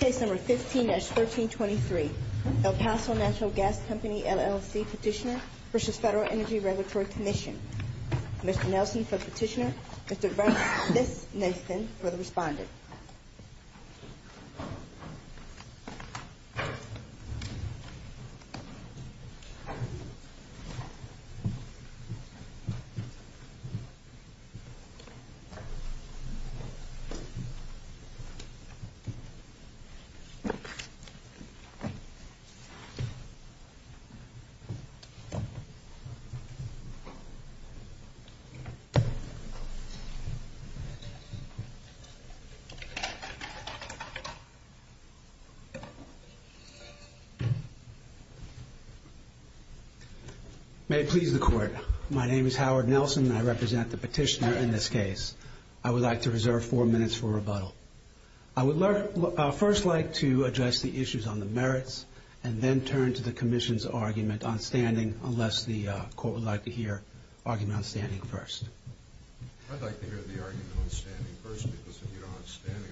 Case No. 15-1323 El Paso Natural Gas Company, LLC Petitioner v. Federal Energy Regulatory Commission Mr. Nelson for the petitioner, Mr. Brunson for the respondent May it please the Court, my name is Howard Nelson and I represent the petitioner in this I would first like to address the issues on the merits and then turn to the Commission's argument on standing unless the Court would like to hear argument on standing first. I'd like to hear the argument on standing first because if you don't have standing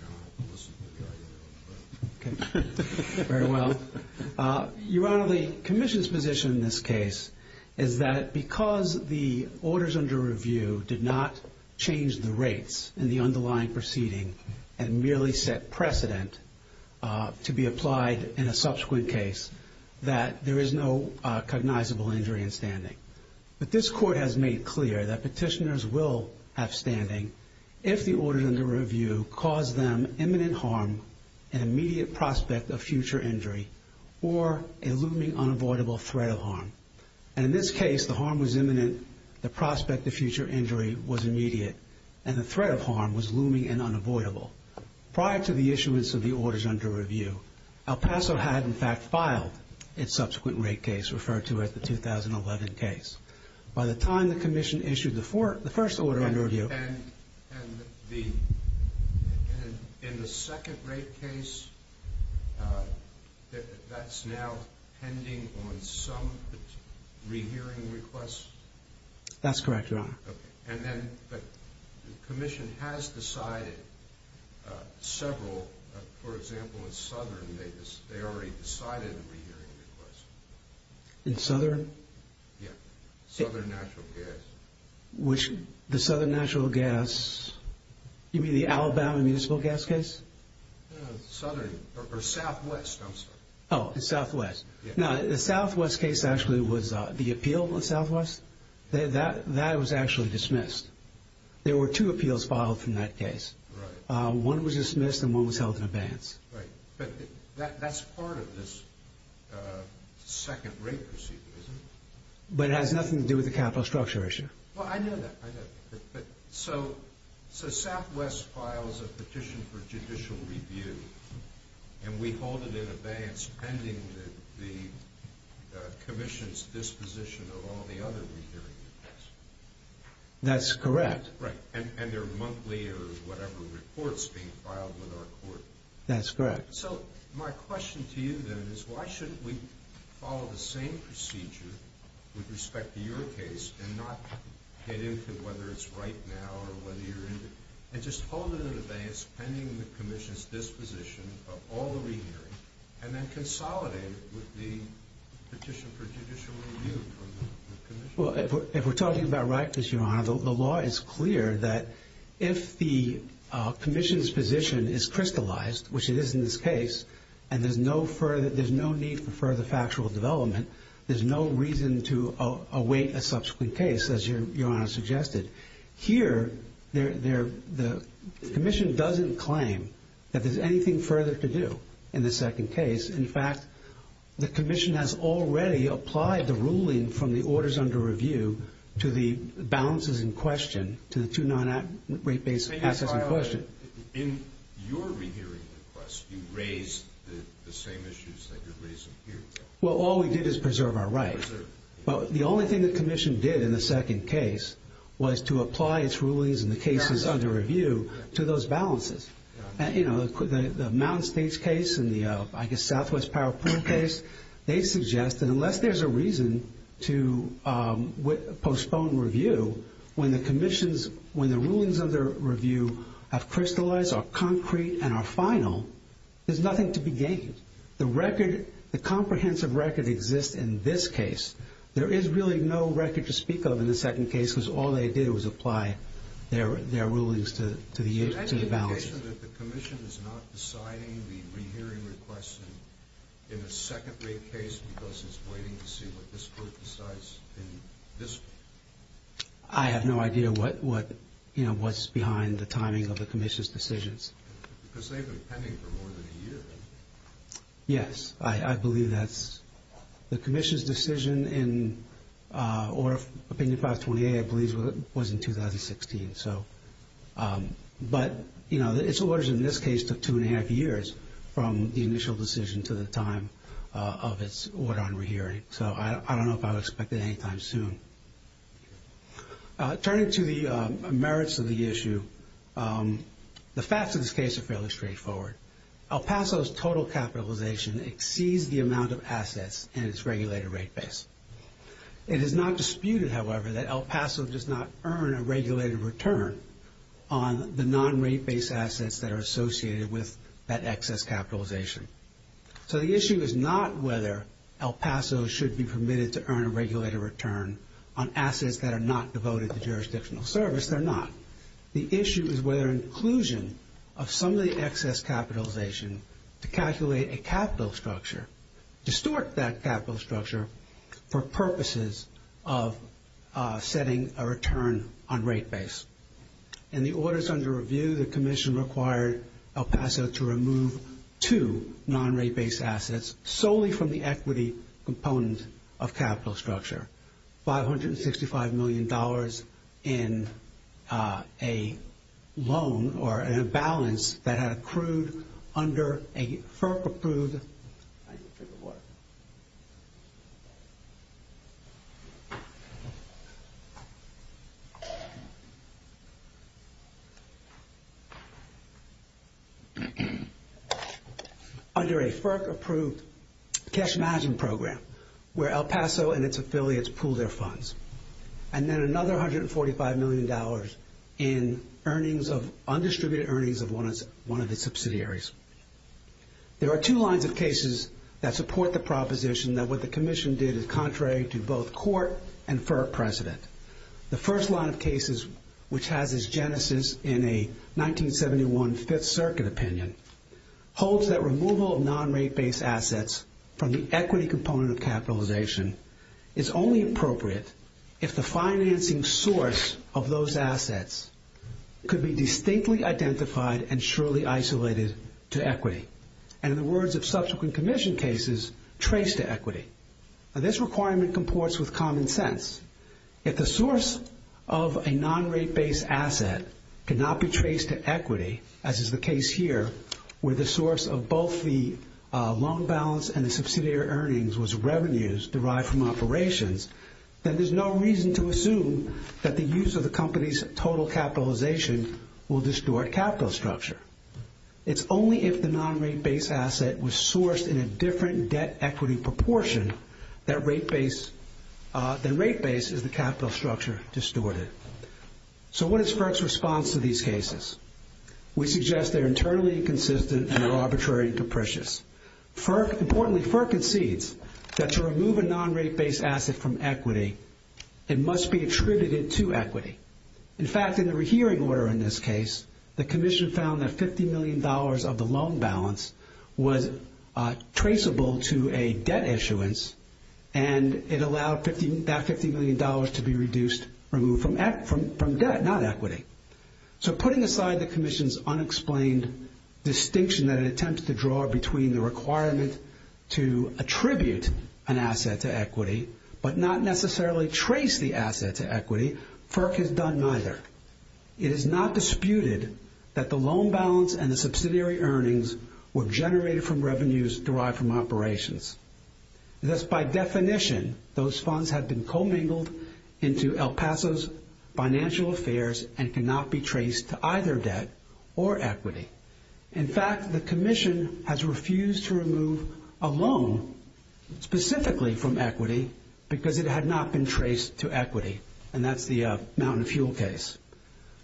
I don't have to listen to the argument on the merits. Very well. Your Honor, the Commission's position in this case is that because the orders under review did not change the rates in the underlying proceeding and merely set precedent to be applied in a subsequent case that there is no cognizable injury in standing. But this Court has made clear that petitioners will have standing if the orders under review cause them imminent harm and immediate prospect of future injury or a looming unavoidable threat of harm. And in this case the harm was imminent, the prospect of future injury was immediate, and the threat of harm was looming and unavoidable. Prior to the issuance of the orders under review, El Paso had in fact filed its subsequent rate case referred to as the 2011 case. By the time the Commission issued the first order under review... And in the second rate case, that's now pending on some rehearing requests? That's correct, Your Honor. Okay. And then the Commission has decided several, for example, in Southern they already decided a rehearing request. In Southern? Yeah. Southern Natural Gas. Which, the Southern Natural Gas, you mean the Alabama Municipal Gas case? No, Southern, or Southwest, I'm sorry. Oh, Southwest. Yeah. The Southwest case actually was, the appeal in Southwest, that was actually dismissed. There were two appeals filed from that case. Right. One was dismissed and one was held in abeyance. Right. But that's part of this second rate procedure, isn't it? But it has nothing to do with the capital structure issue. Well, I know that. So Southwest files a petition for judicial review and we hold it in abeyance pending the Commission's disposition of all the other rehearing requests. That's correct. Right. And they're monthly or whatever reports being filed with our court. That's correct. So my question to you, then, is why shouldn't we follow the same procedure with respect to your case and not get into whether it's right now or whether you're into it, and just hold it in abeyance pending the Commission's disposition of all the rehearing and then consolidate it with the petition for judicial review from the Commission? Well, if we're talking about right, Your Honor, the law is clear that if the Commission's position is crystallized, which it is in this case, and there's no need for further factual development, there's no reason to await a subsequent case, as Your Honor suggested. Here, the Commission doesn't claim that there's anything further to do in the second case. In fact, the Commission has already applied the ruling from the orders under review to the balances in question, to the two non-rate-based assets in question. But in your rehearing request, you raised the same issues that you're raising here. Well, all we did is preserve our rights. But the only thing the Commission did in the second case was to apply its rulings in the cases under review to those balances. You know, the Mountain States case and the, I guess, Southwest Power Point case, they suggest that unless there's a reason to postpone review, when the rulings under review have crystallized, are concrete, and are final, there's nothing to be gained. The comprehensive record exists in this case. There is really no record to speak of in the second case because all they did was apply their rulings to the balances. You mentioned that the Commission is not deciding the rehearing request in a second-rate case because it's waiting to see what this Court decides in this case. I have no idea what's behind the timing of the Commission's decisions. Because they've been pending for more than a year. Yes, I believe that's the Commission's decision, or Opinion 528, I believe, was in 2016. But, you know, its orders in this case took two and a half years from the initial decision to the time of its order on rehearing. So I don't know if I would expect it any time soon. Turning to the merits of the issue, the facts of this case are fairly straightforward. El Paso's total capitalization exceeds the amount of assets in its regulated rate base. It is not disputed, however, that El Paso does not earn a regulated return on the non-rate base assets that are associated with that excess capitalization. So the issue is not whether El Paso should be permitted to earn a regulated return on assets that are not devoted to jurisdictional service. They're not. The issue is whether inclusion of some of the excess capitalization to calculate a capital structure, distort that capital structure for purposes of setting a return on rate base. In the orders under review, the Commission required El Paso to remove two non-rate base assets solely from the equity component of capital structure. $565 million in a loan or in a balance that had accrued under a FERC-approved... And then another $145 million in undistributed earnings of one of its subsidiaries. There are two lines of cases that support the proposition that what the Commission did is contrary to both court and FERC precedent. The first line of cases, which has its genesis in a 1971 Fifth Circuit opinion, holds that removal of non-rate base assets from the equity component of capitalization is only appropriate if the financing source of those assets could be distinctly identified and surely isolated to equity. And in the words of subsequent Commission cases, trace to equity. Now this requirement comports with common sense. If the source of a non-rate base asset cannot be traced to equity, as is the case here, where the source of both the loan balance and the subsidiary earnings was revenues derived from operations, then there's no reason to assume that the use of the company's total capitalization will distort capital structure. It's only if the non-rate base asset was sourced in a different debt equity proportion that rate base is the capital structure distorted. So what is FERC's response to these cases? We suggest they're internally inconsistent and are arbitrary and capricious. Importantly, FERC concedes that to remove a non-rate base asset from equity, it must be attributed to equity. In fact, in the rehearing order in this case, the Commission found that $50 million of the loan balance was traceable to a debt issuance and it allowed that $50 million to be reduced, removed from debt, not equity. So putting aside the Commission's unexplained distinction that it attempts to draw between the requirement to attribute an asset to equity but not necessarily trace the asset to equity, FERC has done neither. It is not disputed that the loan balance and the subsidiary earnings were generated from revenues derived from operations. Thus, by definition, those funds have been commingled into El Paso's financial affairs and cannot be traced to either debt or equity. In fact, the Commission has refused to remove a loan specifically from equity because it had not been traced to equity, and that's the Mountain Fuel case.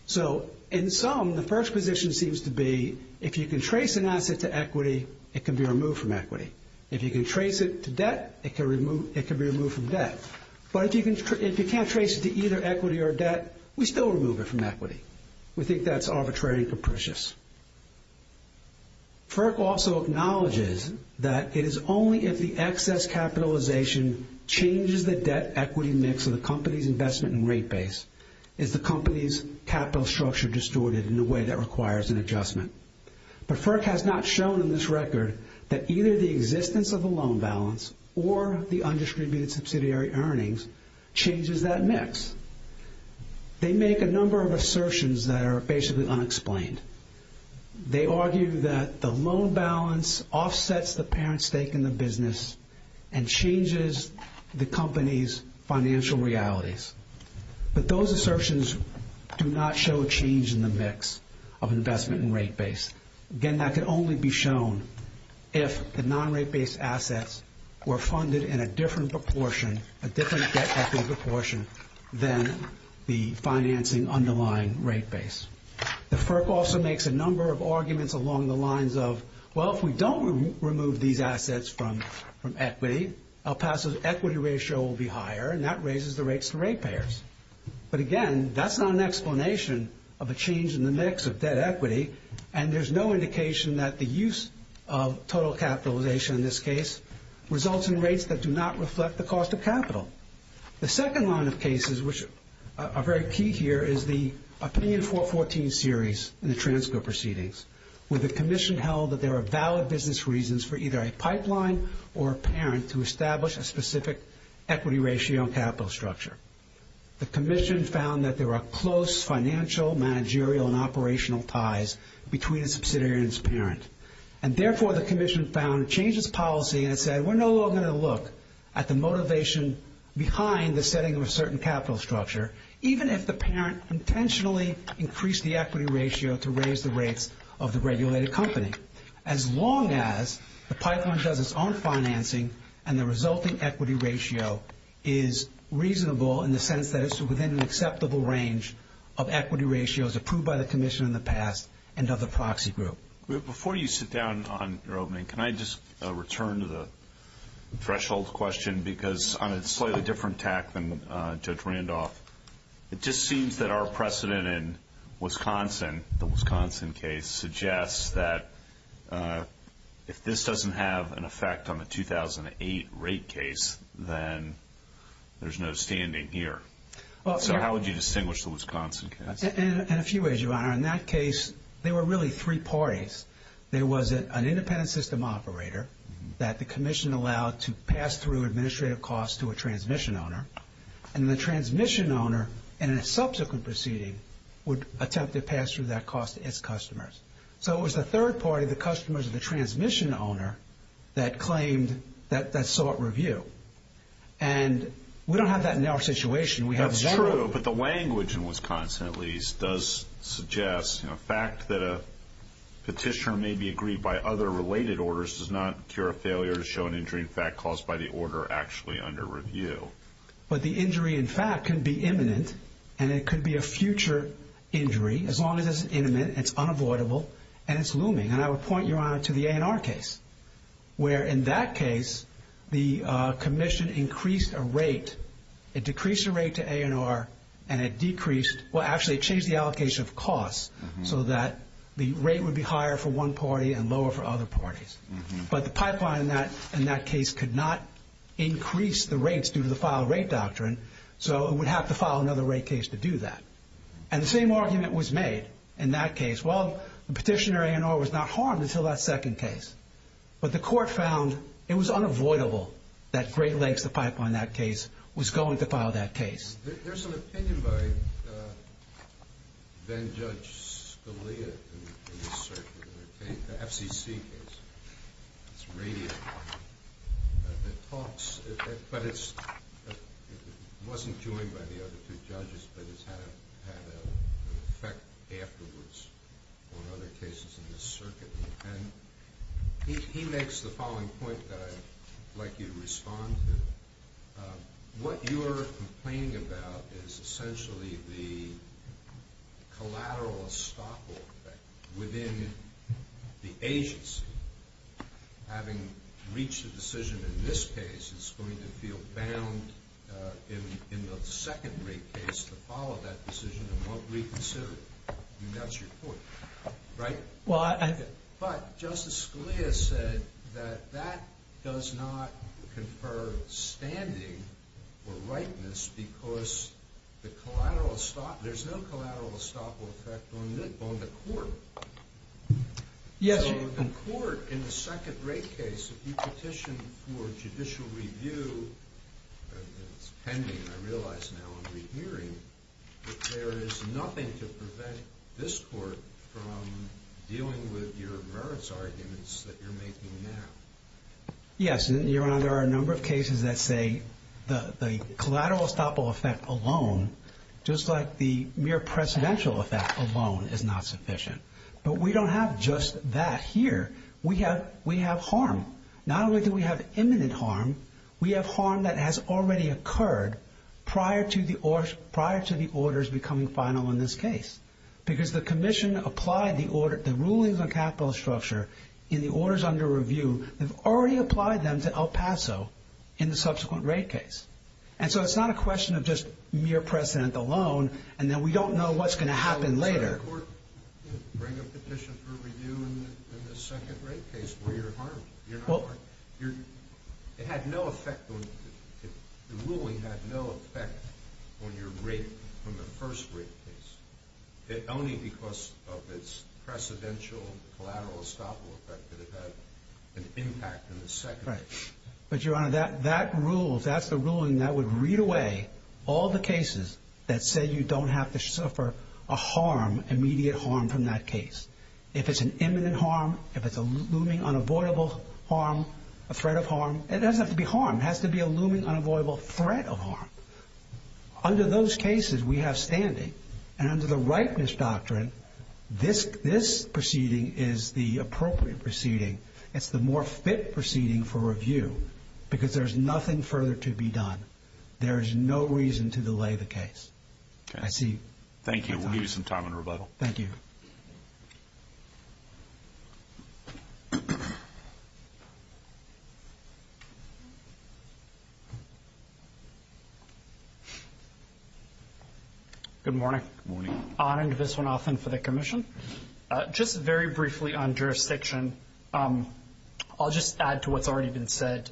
So in sum, the first position seems to be if you can trace an asset to equity, it can be removed from equity. If you can trace it to debt, it can be removed from debt. But if you can't trace it to either equity or debt, we still remove it from equity. We think that's arbitrary and capricious. FERC also acknowledges that it is only if the excess capitalization changes the debt-equity mix of the company's investment and rate base is the company's capital structure distorted in a way that requires an adjustment. But FERC has not shown in this record that either the existence of a loan balance or the undistributed subsidiary earnings changes that mix. They make a number of assertions that are basically unexplained. They argue that the loan balance offsets the parent's stake in the business and changes the company's financial realities. But those assertions do not show a change in the mix of investment and rate base. Again, that can only be shown if the non-rate-based assets were funded in a different proportion, a different debt-equity proportion, than the financing underlying rate base. The FERC also makes a number of arguments along the lines of, well, if we don't remove these assets from equity, El Paso's equity ratio will be higher, and that raises the rates to rate payers. But again, that's not an explanation of a change in the mix of debt equity, and there's no indication that the use of total capitalization in this case results in rates that do not reflect the cost of capital. The second line of cases, which are very key here, is the Opinion 414 series in the Transco proceedings, where the Commission held that there are valid business reasons for either a pipeline or a parent to establish a specific equity ratio and capital structure. The Commission found that there are close financial, managerial, and operational ties between a subsidiary and its parent. And therefore, the Commission found changes policy and said, we're no longer going to look at the motivation behind the setting of a certain capital structure, even if the parent intentionally increased the equity ratio to raise the rates of the regulated company, as long as the pipeline does its own financing and the resulting equity ratio is reasonable in the sense that it's within an acceptable range of equity ratios approved by the Commission in the past and of the proxy group. Before you sit down on your opening, can I just return to the threshold question? Because on a slightly different tack than Judge Randolph, it just seems that our precedent in Wisconsin, the Wisconsin case, suggests that if this doesn't have an effect on the 2008 rate case, then there's no standing here. So how would you distinguish the Wisconsin case? In a few ways, Your Honor. In that case, there were really three parties. There was an independent system operator that the Commission allowed to pass through administrative costs to a transmission owner. And the transmission owner, in a subsequent proceeding, would attempt to pass through that cost to its customers. So it was the third party, the customers or the transmission owner, that claimed that sought review. And we don't have that in our situation. That's true, but the language in Wisconsin, at least, does suggest, you know, the fact that a petitioner may be aggrieved by other related orders does not cure a failure to show an injury in fact caused by the order actually under review. But the injury, in fact, can be imminent, and it could be a future injury, as long as it's imminent, it's unavoidable, and it's looming. And I would point you, Your Honor, to the A&R case, where in that case the Commission increased a rate, it decreased the rate to A&R, and it decreased, well, actually it changed the allocation of costs so that the rate would be higher for one party and lower for other parties. But the pipeline in that case could not increase the rates due to the file rate doctrine, so it would have to file another rate case to do that. And the same argument was made in that case. Well, the petitioner A&R was not harmed until that second case, but the court found it was unavoidable that Great Lakes, the pipeline in that case, was going to file that case. There's an opinion by then-Judge Scalia in this circuit, the FCC case. It's radiant. It talks, but it wasn't joined by the other two judges, but it's had an effect afterwards on other cases in this circuit. And he makes the following point that I'd like you to respond to. What you are complaining about is essentially the collateral estoppel effect within the agency having reached a decision in this case that's going to feel bound in the second rate case to follow that decision and won't reconsider it. That's your point, right? But Justice Scalia said that that does not confer standing or rightness because there's no collateral estoppel effect on the court. So the court in the second rate case, if you petition for judicial review, it's pending, I realize now in the hearing, that there is nothing to prevent this court from dealing with your merits arguments that you're making now. Yes. Your Honor, there are a number of cases that say the collateral estoppel effect alone, just like the mere precedential effect alone, is not sufficient. But we don't have just that here. We have harm. Not only do we have imminent harm, we have harm that has already occurred prior to the orders becoming final in this case because the commission applied the rulings on capital structure in the orders under review. They've already applied them to El Paso in the subsequent rate case. And so it's not a question of just mere precedent alone and then we don't know what's going to happen later. Bring a petition for review in the second rate case where you're harmed. You're not harmed. It had no effect, the ruling had no effect on your rate from the first rate case. Only because of its precedential collateral estoppel effect did it have an impact in the second rate. But, Your Honor, that rule, that's the ruling that would read away all the cases that say you don't have to suffer a harm, immediate harm from that case. If it's an imminent harm, if it's a looming unavoidable harm, a threat of harm, it doesn't have to be harm. It has to be a looming unavoidable threat of harm. Under those cases, we have standing. And under the ripeness doctrine, this proceeding is the appropriate proceeding. It's the more fit proceeding for review because there's nothing further to be done. There is no reason to delay the case. I see you. Thank you. We'll give you some time in rebuttal. Thank you. Good morning. Good morning. Anand Viswanathan for the Commission. Just very briefly on jurisdiction, I'll just add to what's already been said.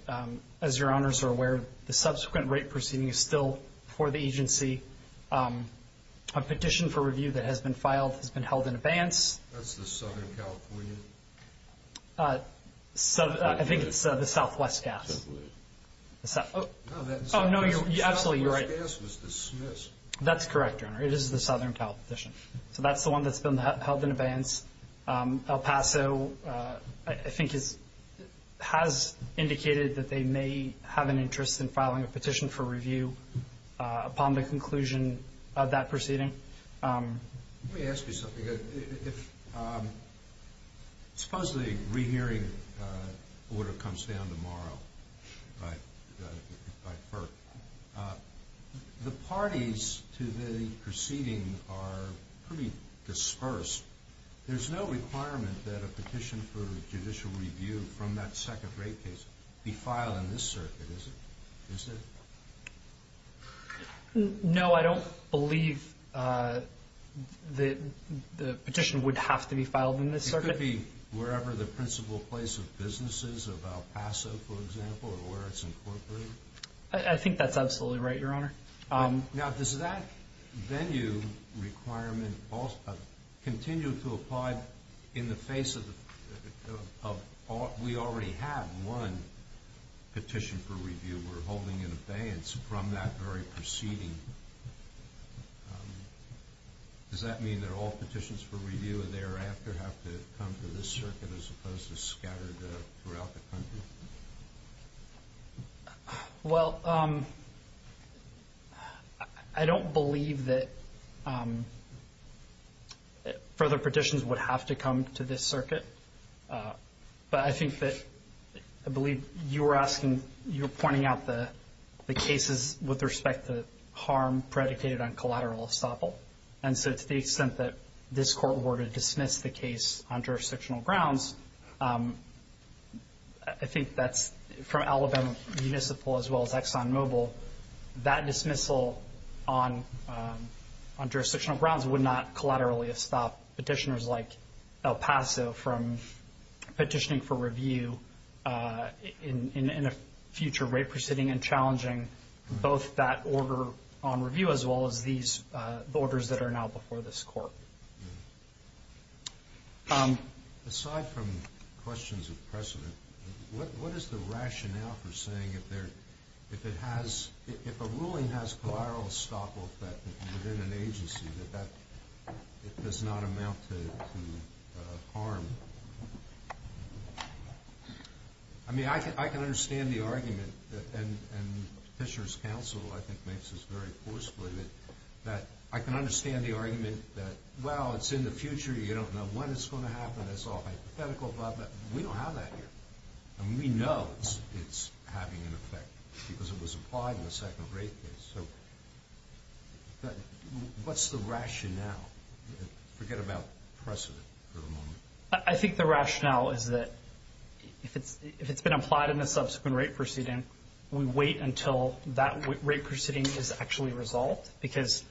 As Your Honors are aware, the subsequent rate proceeding is still for the agency. A petition for review that has been filed has been held in abeyance. That's the Southern California? I think it's the Southwest Gas. Oh, no, you're absolutely right. The Southwest Gas was dismissed. That's correct, Your Honor. It is the Southern California petition. So that's the one that's been held in abeyance. El Paso, I think, has indicated that they may have an interest in filing a petition for review upon the conclusion of that proceeding. Let me ask you something. Suppose the rehearing order comes down tomorrow by FERC. The parties to the proceeding are pretty dispersed. There's no requirement that a petition for judicial review from that second rate case be filed in this circuit, is there? No, I don't believe the petition would have to be filed in this circuit. It could be wherever the principal place of business is, of El Paso, for example, or where it's incorporated. I think that's absolutely right, Your Honor. Now, does that venue requirement continue to apply in the face of we already have one petition for review? We're holding an abeyance from that very proceeding. Does that mean that all petitions for review thereafter have to come to this circuit as opposed to scattered throughout the country? Well, I don't believe that further petitions would have to come to this circuit. But I think that I believe you were pointing out the cases with respect to harm predicated on collateral estoppel. And so to the extent that this court were to dismiss the case on jurisdictional grounds, I think that's from Alabama Municipal as well as ExxonMobil, that dismissal on jurisdictional grounds would not collaterally estop petitioners like El Paso from petitioning for review in a future rate proceeding and challenging both that order on review as well as these orders that are now before this court. Aside from questions of precedent, what is the rationale for saying if a ruling has collateral estoppel effect within an agency, that that does not amount to harm? I mean, I can understand the argument, and Petitioner's counsel, I think, makes this very forcefully, that I can understand the argument that, well, it's in the future. You don't know when it's going to happen. That's all hypothetical, but we don't have that here. And we know it's having an effect because it was applied in the second rate case. So what's the rationale? Forget about precedent for the moment. I think the rationale is that if it's been applied in a subsequent rate proceeding, we wait until that rate proceeding is actually resolved because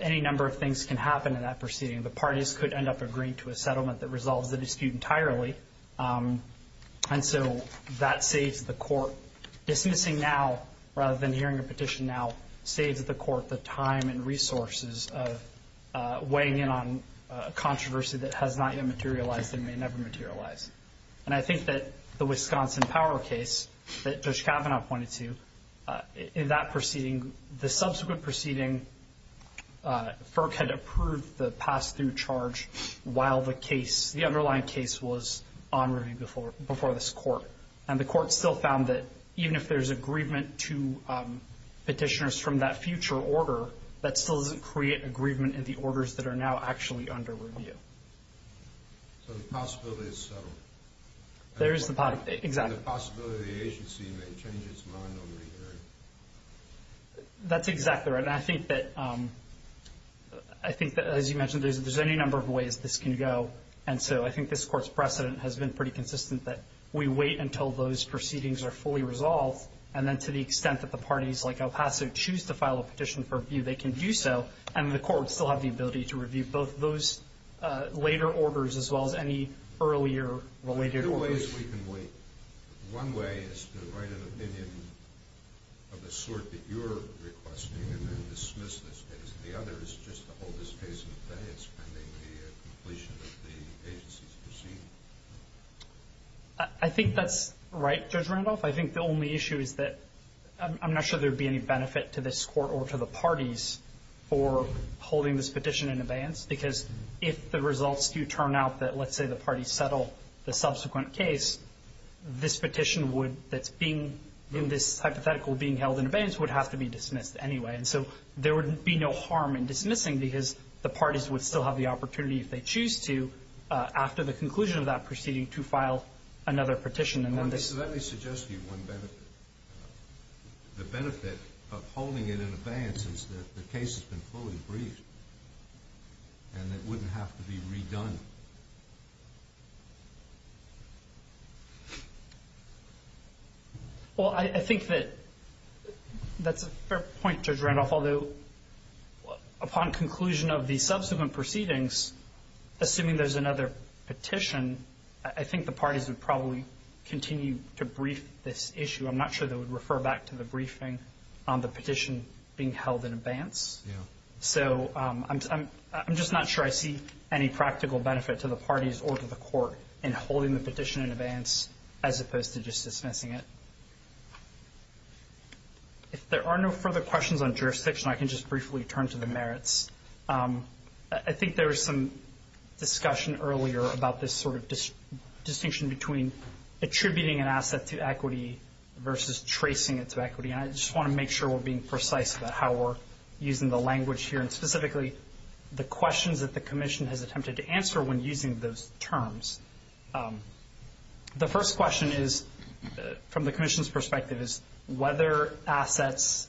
any number of things can happen in that proceeding. The parties could end up agreeing to a settlement that resolves the dispute entirely. And so that saves the court. Dismissing now rather than hearing a petition now saves the court the time and resources of weighing in on a controversy that has not yet materialized and may never materialize. And I think that the Wisconsin Power case that Judge Kavanaugh pointed to, in that proceeding, the subsequent proceeding, FERC had approved the pass-through charge while the case, the underlying case was on review before this Court. And the Court still found that even if there's agreement to Petitioner's from that future order, that still doesn't create agreement in the orders that are now actually under review. So the possibility is settled. There is the possibility. Exactly. And the possibility the agency may change its mind over the hearing. That's exactly right. And I think that, as you mentioned, there's any number of ways this can go. And so I think this Court's precedent has been pretty consistent that we wait until those proceedings are fully resolved. And then to the extent that the parties, like El Paso, choose to file a petition for review, they can do so. And the Court would still have the ability to review both those later orders as well as any earlier related orders. There are two ways we can wait. One way is to write an opinion of the sort that you're requesting and then dismiss this case. The other is just to hold this case in place pending the completion of the agency's proceeding. I think that's right, Judge Randolph. I think the only issue is that I'm not sure there would be any benefit to this Court or to the parties for holding this petition in abeyance, because if the results do turn out that, let's say, the parties settle the subsequent case, this petition would, that's being in this hypothetical being held in abeyance, would have to be dismissed anyway. And so there would be no harm in dismissing because the parties would still have the opportunity, if they choose to, after the conclusion of that proceeding, to file another petition. Let me suggest to you one benefit. The benefit of holding it in abeyance is that the case has been fully briefed and it wouldn't have to be redone. Well, I think that that's a fair point, Judge Randolph. Although, upon conclusion of the subsequent proceedings, assuming there's another petition, I think the parties would probably continue to brief this issue. I'm not sure they would refer back to the briefing on the petition being held in abeyance. So I'm just not sure I see any practical benefit to the parties or to the Court in holding the petition in abeyance as opposed to just dismissing it. If there are no further questions on jurisdiction, I can just briefly turn to the merits. I think there was some discussion earlier about this sort of distinction between attributing an asset to equity versus tracing it to equity, and I just want to make sure we're being precise about how we're using the language here and specifically the questions that the Commission has attempted to answer when using those terms. The first question is, from the Commission's perspective, is whether assets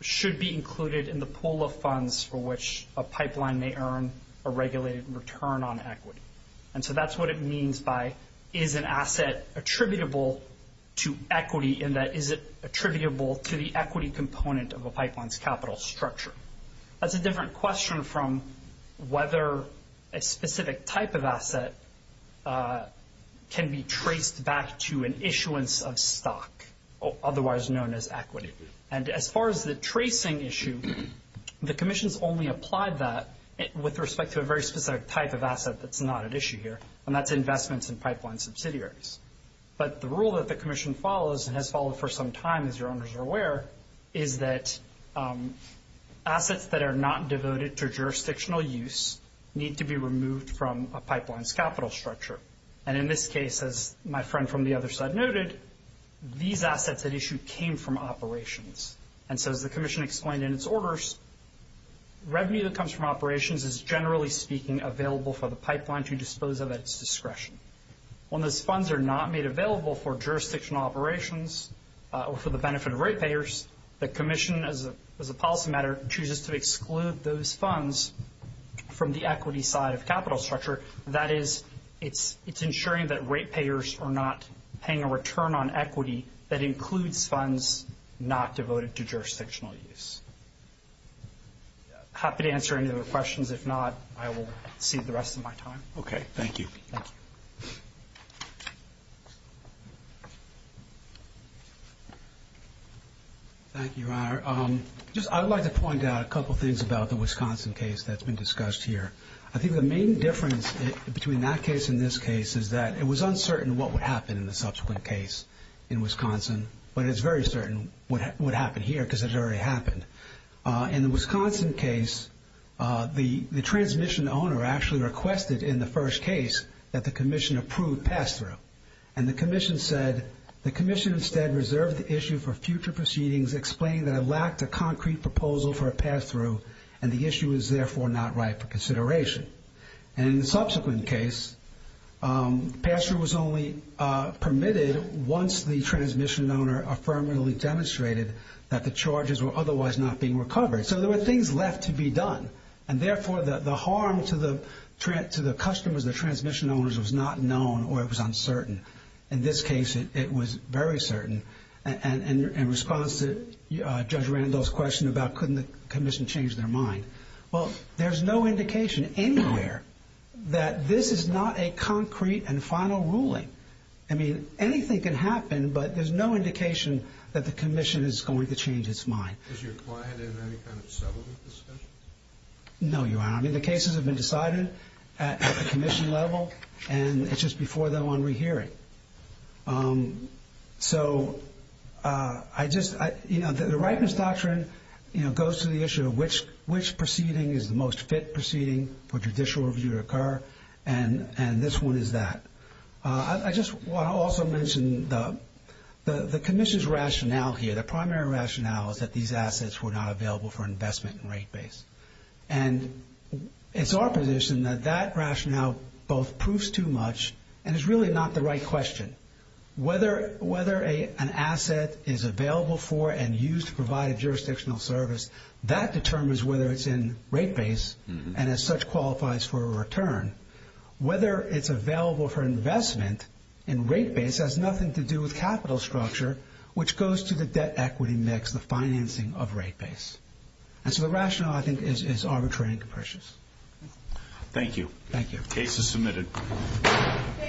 should be included in the pool of funds for which a pipeline may earn a regulated return on equity. And so that's what it means by, is an asset attributable to equity, in that is it attributable to the equity component of a pipeline's capital structure? That's a different question from whether a specific type of asset can be traced back to an issuance of stock, otherwise known as equity. And as far as the tracing issue, the Commission's only applied that with respect to a very specific type of asset that's not at issue here, and that's investments in pipeline subsidiaries. But the rule that the Commission follows and has followed for some time, as your owners are aware, is that assets that are not devoted to jurisdictional use need to be removed from a pipeline's capital structure. And in this case, as my friend from the other side noted, these assets at issue came from operations. And so as the Commission explained in its orders, revenue that comes from operations is, generally speaking, available for the pipeline to dispose of at its discretion. When those funds are not made available for jurisdictional operations or for the benefit of ratepayers, the Commission, as a policy matter, chooses to exclude those funds from the equity side of capital structure. That is, it's ensuring that ratepayers are not paying a return on equity that includes funds not devoted to jurisdictional use. Happy to answer any other questions. If not, I will cede the rest of my time. Okay, thank you. Thank you. Thank you, Ryan. I would like to point out a couple things about the Wisconsin case that's been discussed here. I think the main difference between that case and this case is that it was uncertain what would happen in the subsequent case in Wisconsin, but it's very certain what would happen here because it already happened. In the Wisconsin case, the transmission owner actually requested in the first case that the Commission approve pass-through. And the Commission said, the Commission instead reserved the issue for future proceedings explaining that it lacked a concrete proposal for a pass-through and the issue is therefore not right for consideration. And in the subsequent case, pass-through was only permitted once the transmission owner affirmatively demonstrated that the charges were otherwise not being recovered. So there were things left to be done, and therefore the harm to the customers, the transmission owners, was not known or it was uncertain. In this case, it was very certain. And in response to Judge Randolph's question about why couldn't the Commission change their mind, well, there's no indication anywhere that this is not a concrete and final ruling. I mean, anything can happen, but there's no indication that the Commission is going to change its mind. Is your client in any kind of settlement discussions? No, Your Honor. I mean, the cases have been decided at the Commission level, and it's just before they're on rehearing. So I just, you know, the Rightness Doctrine, you know, goes to the issue of which proceeding is the most fit proceeding for judicial review to occur, and this one is that. I just want to also mention the Commission's rationale here. Their primary rationale is that these assets were not available for investment and rate base. And it's our position that that rationale both proves too much and is really not the right question. Whether an asset is available for and used to provide jurisdictional service, that determines whether it's in rate base and as such qualifies for a return. Whether it's available for investment in rate base has nothing to do with capital structure, which goes to the debt equity mix, the financing of rate base. And so the rationale, I think, is arbitrary and capricious. Thank you. Thank you. This is submitted.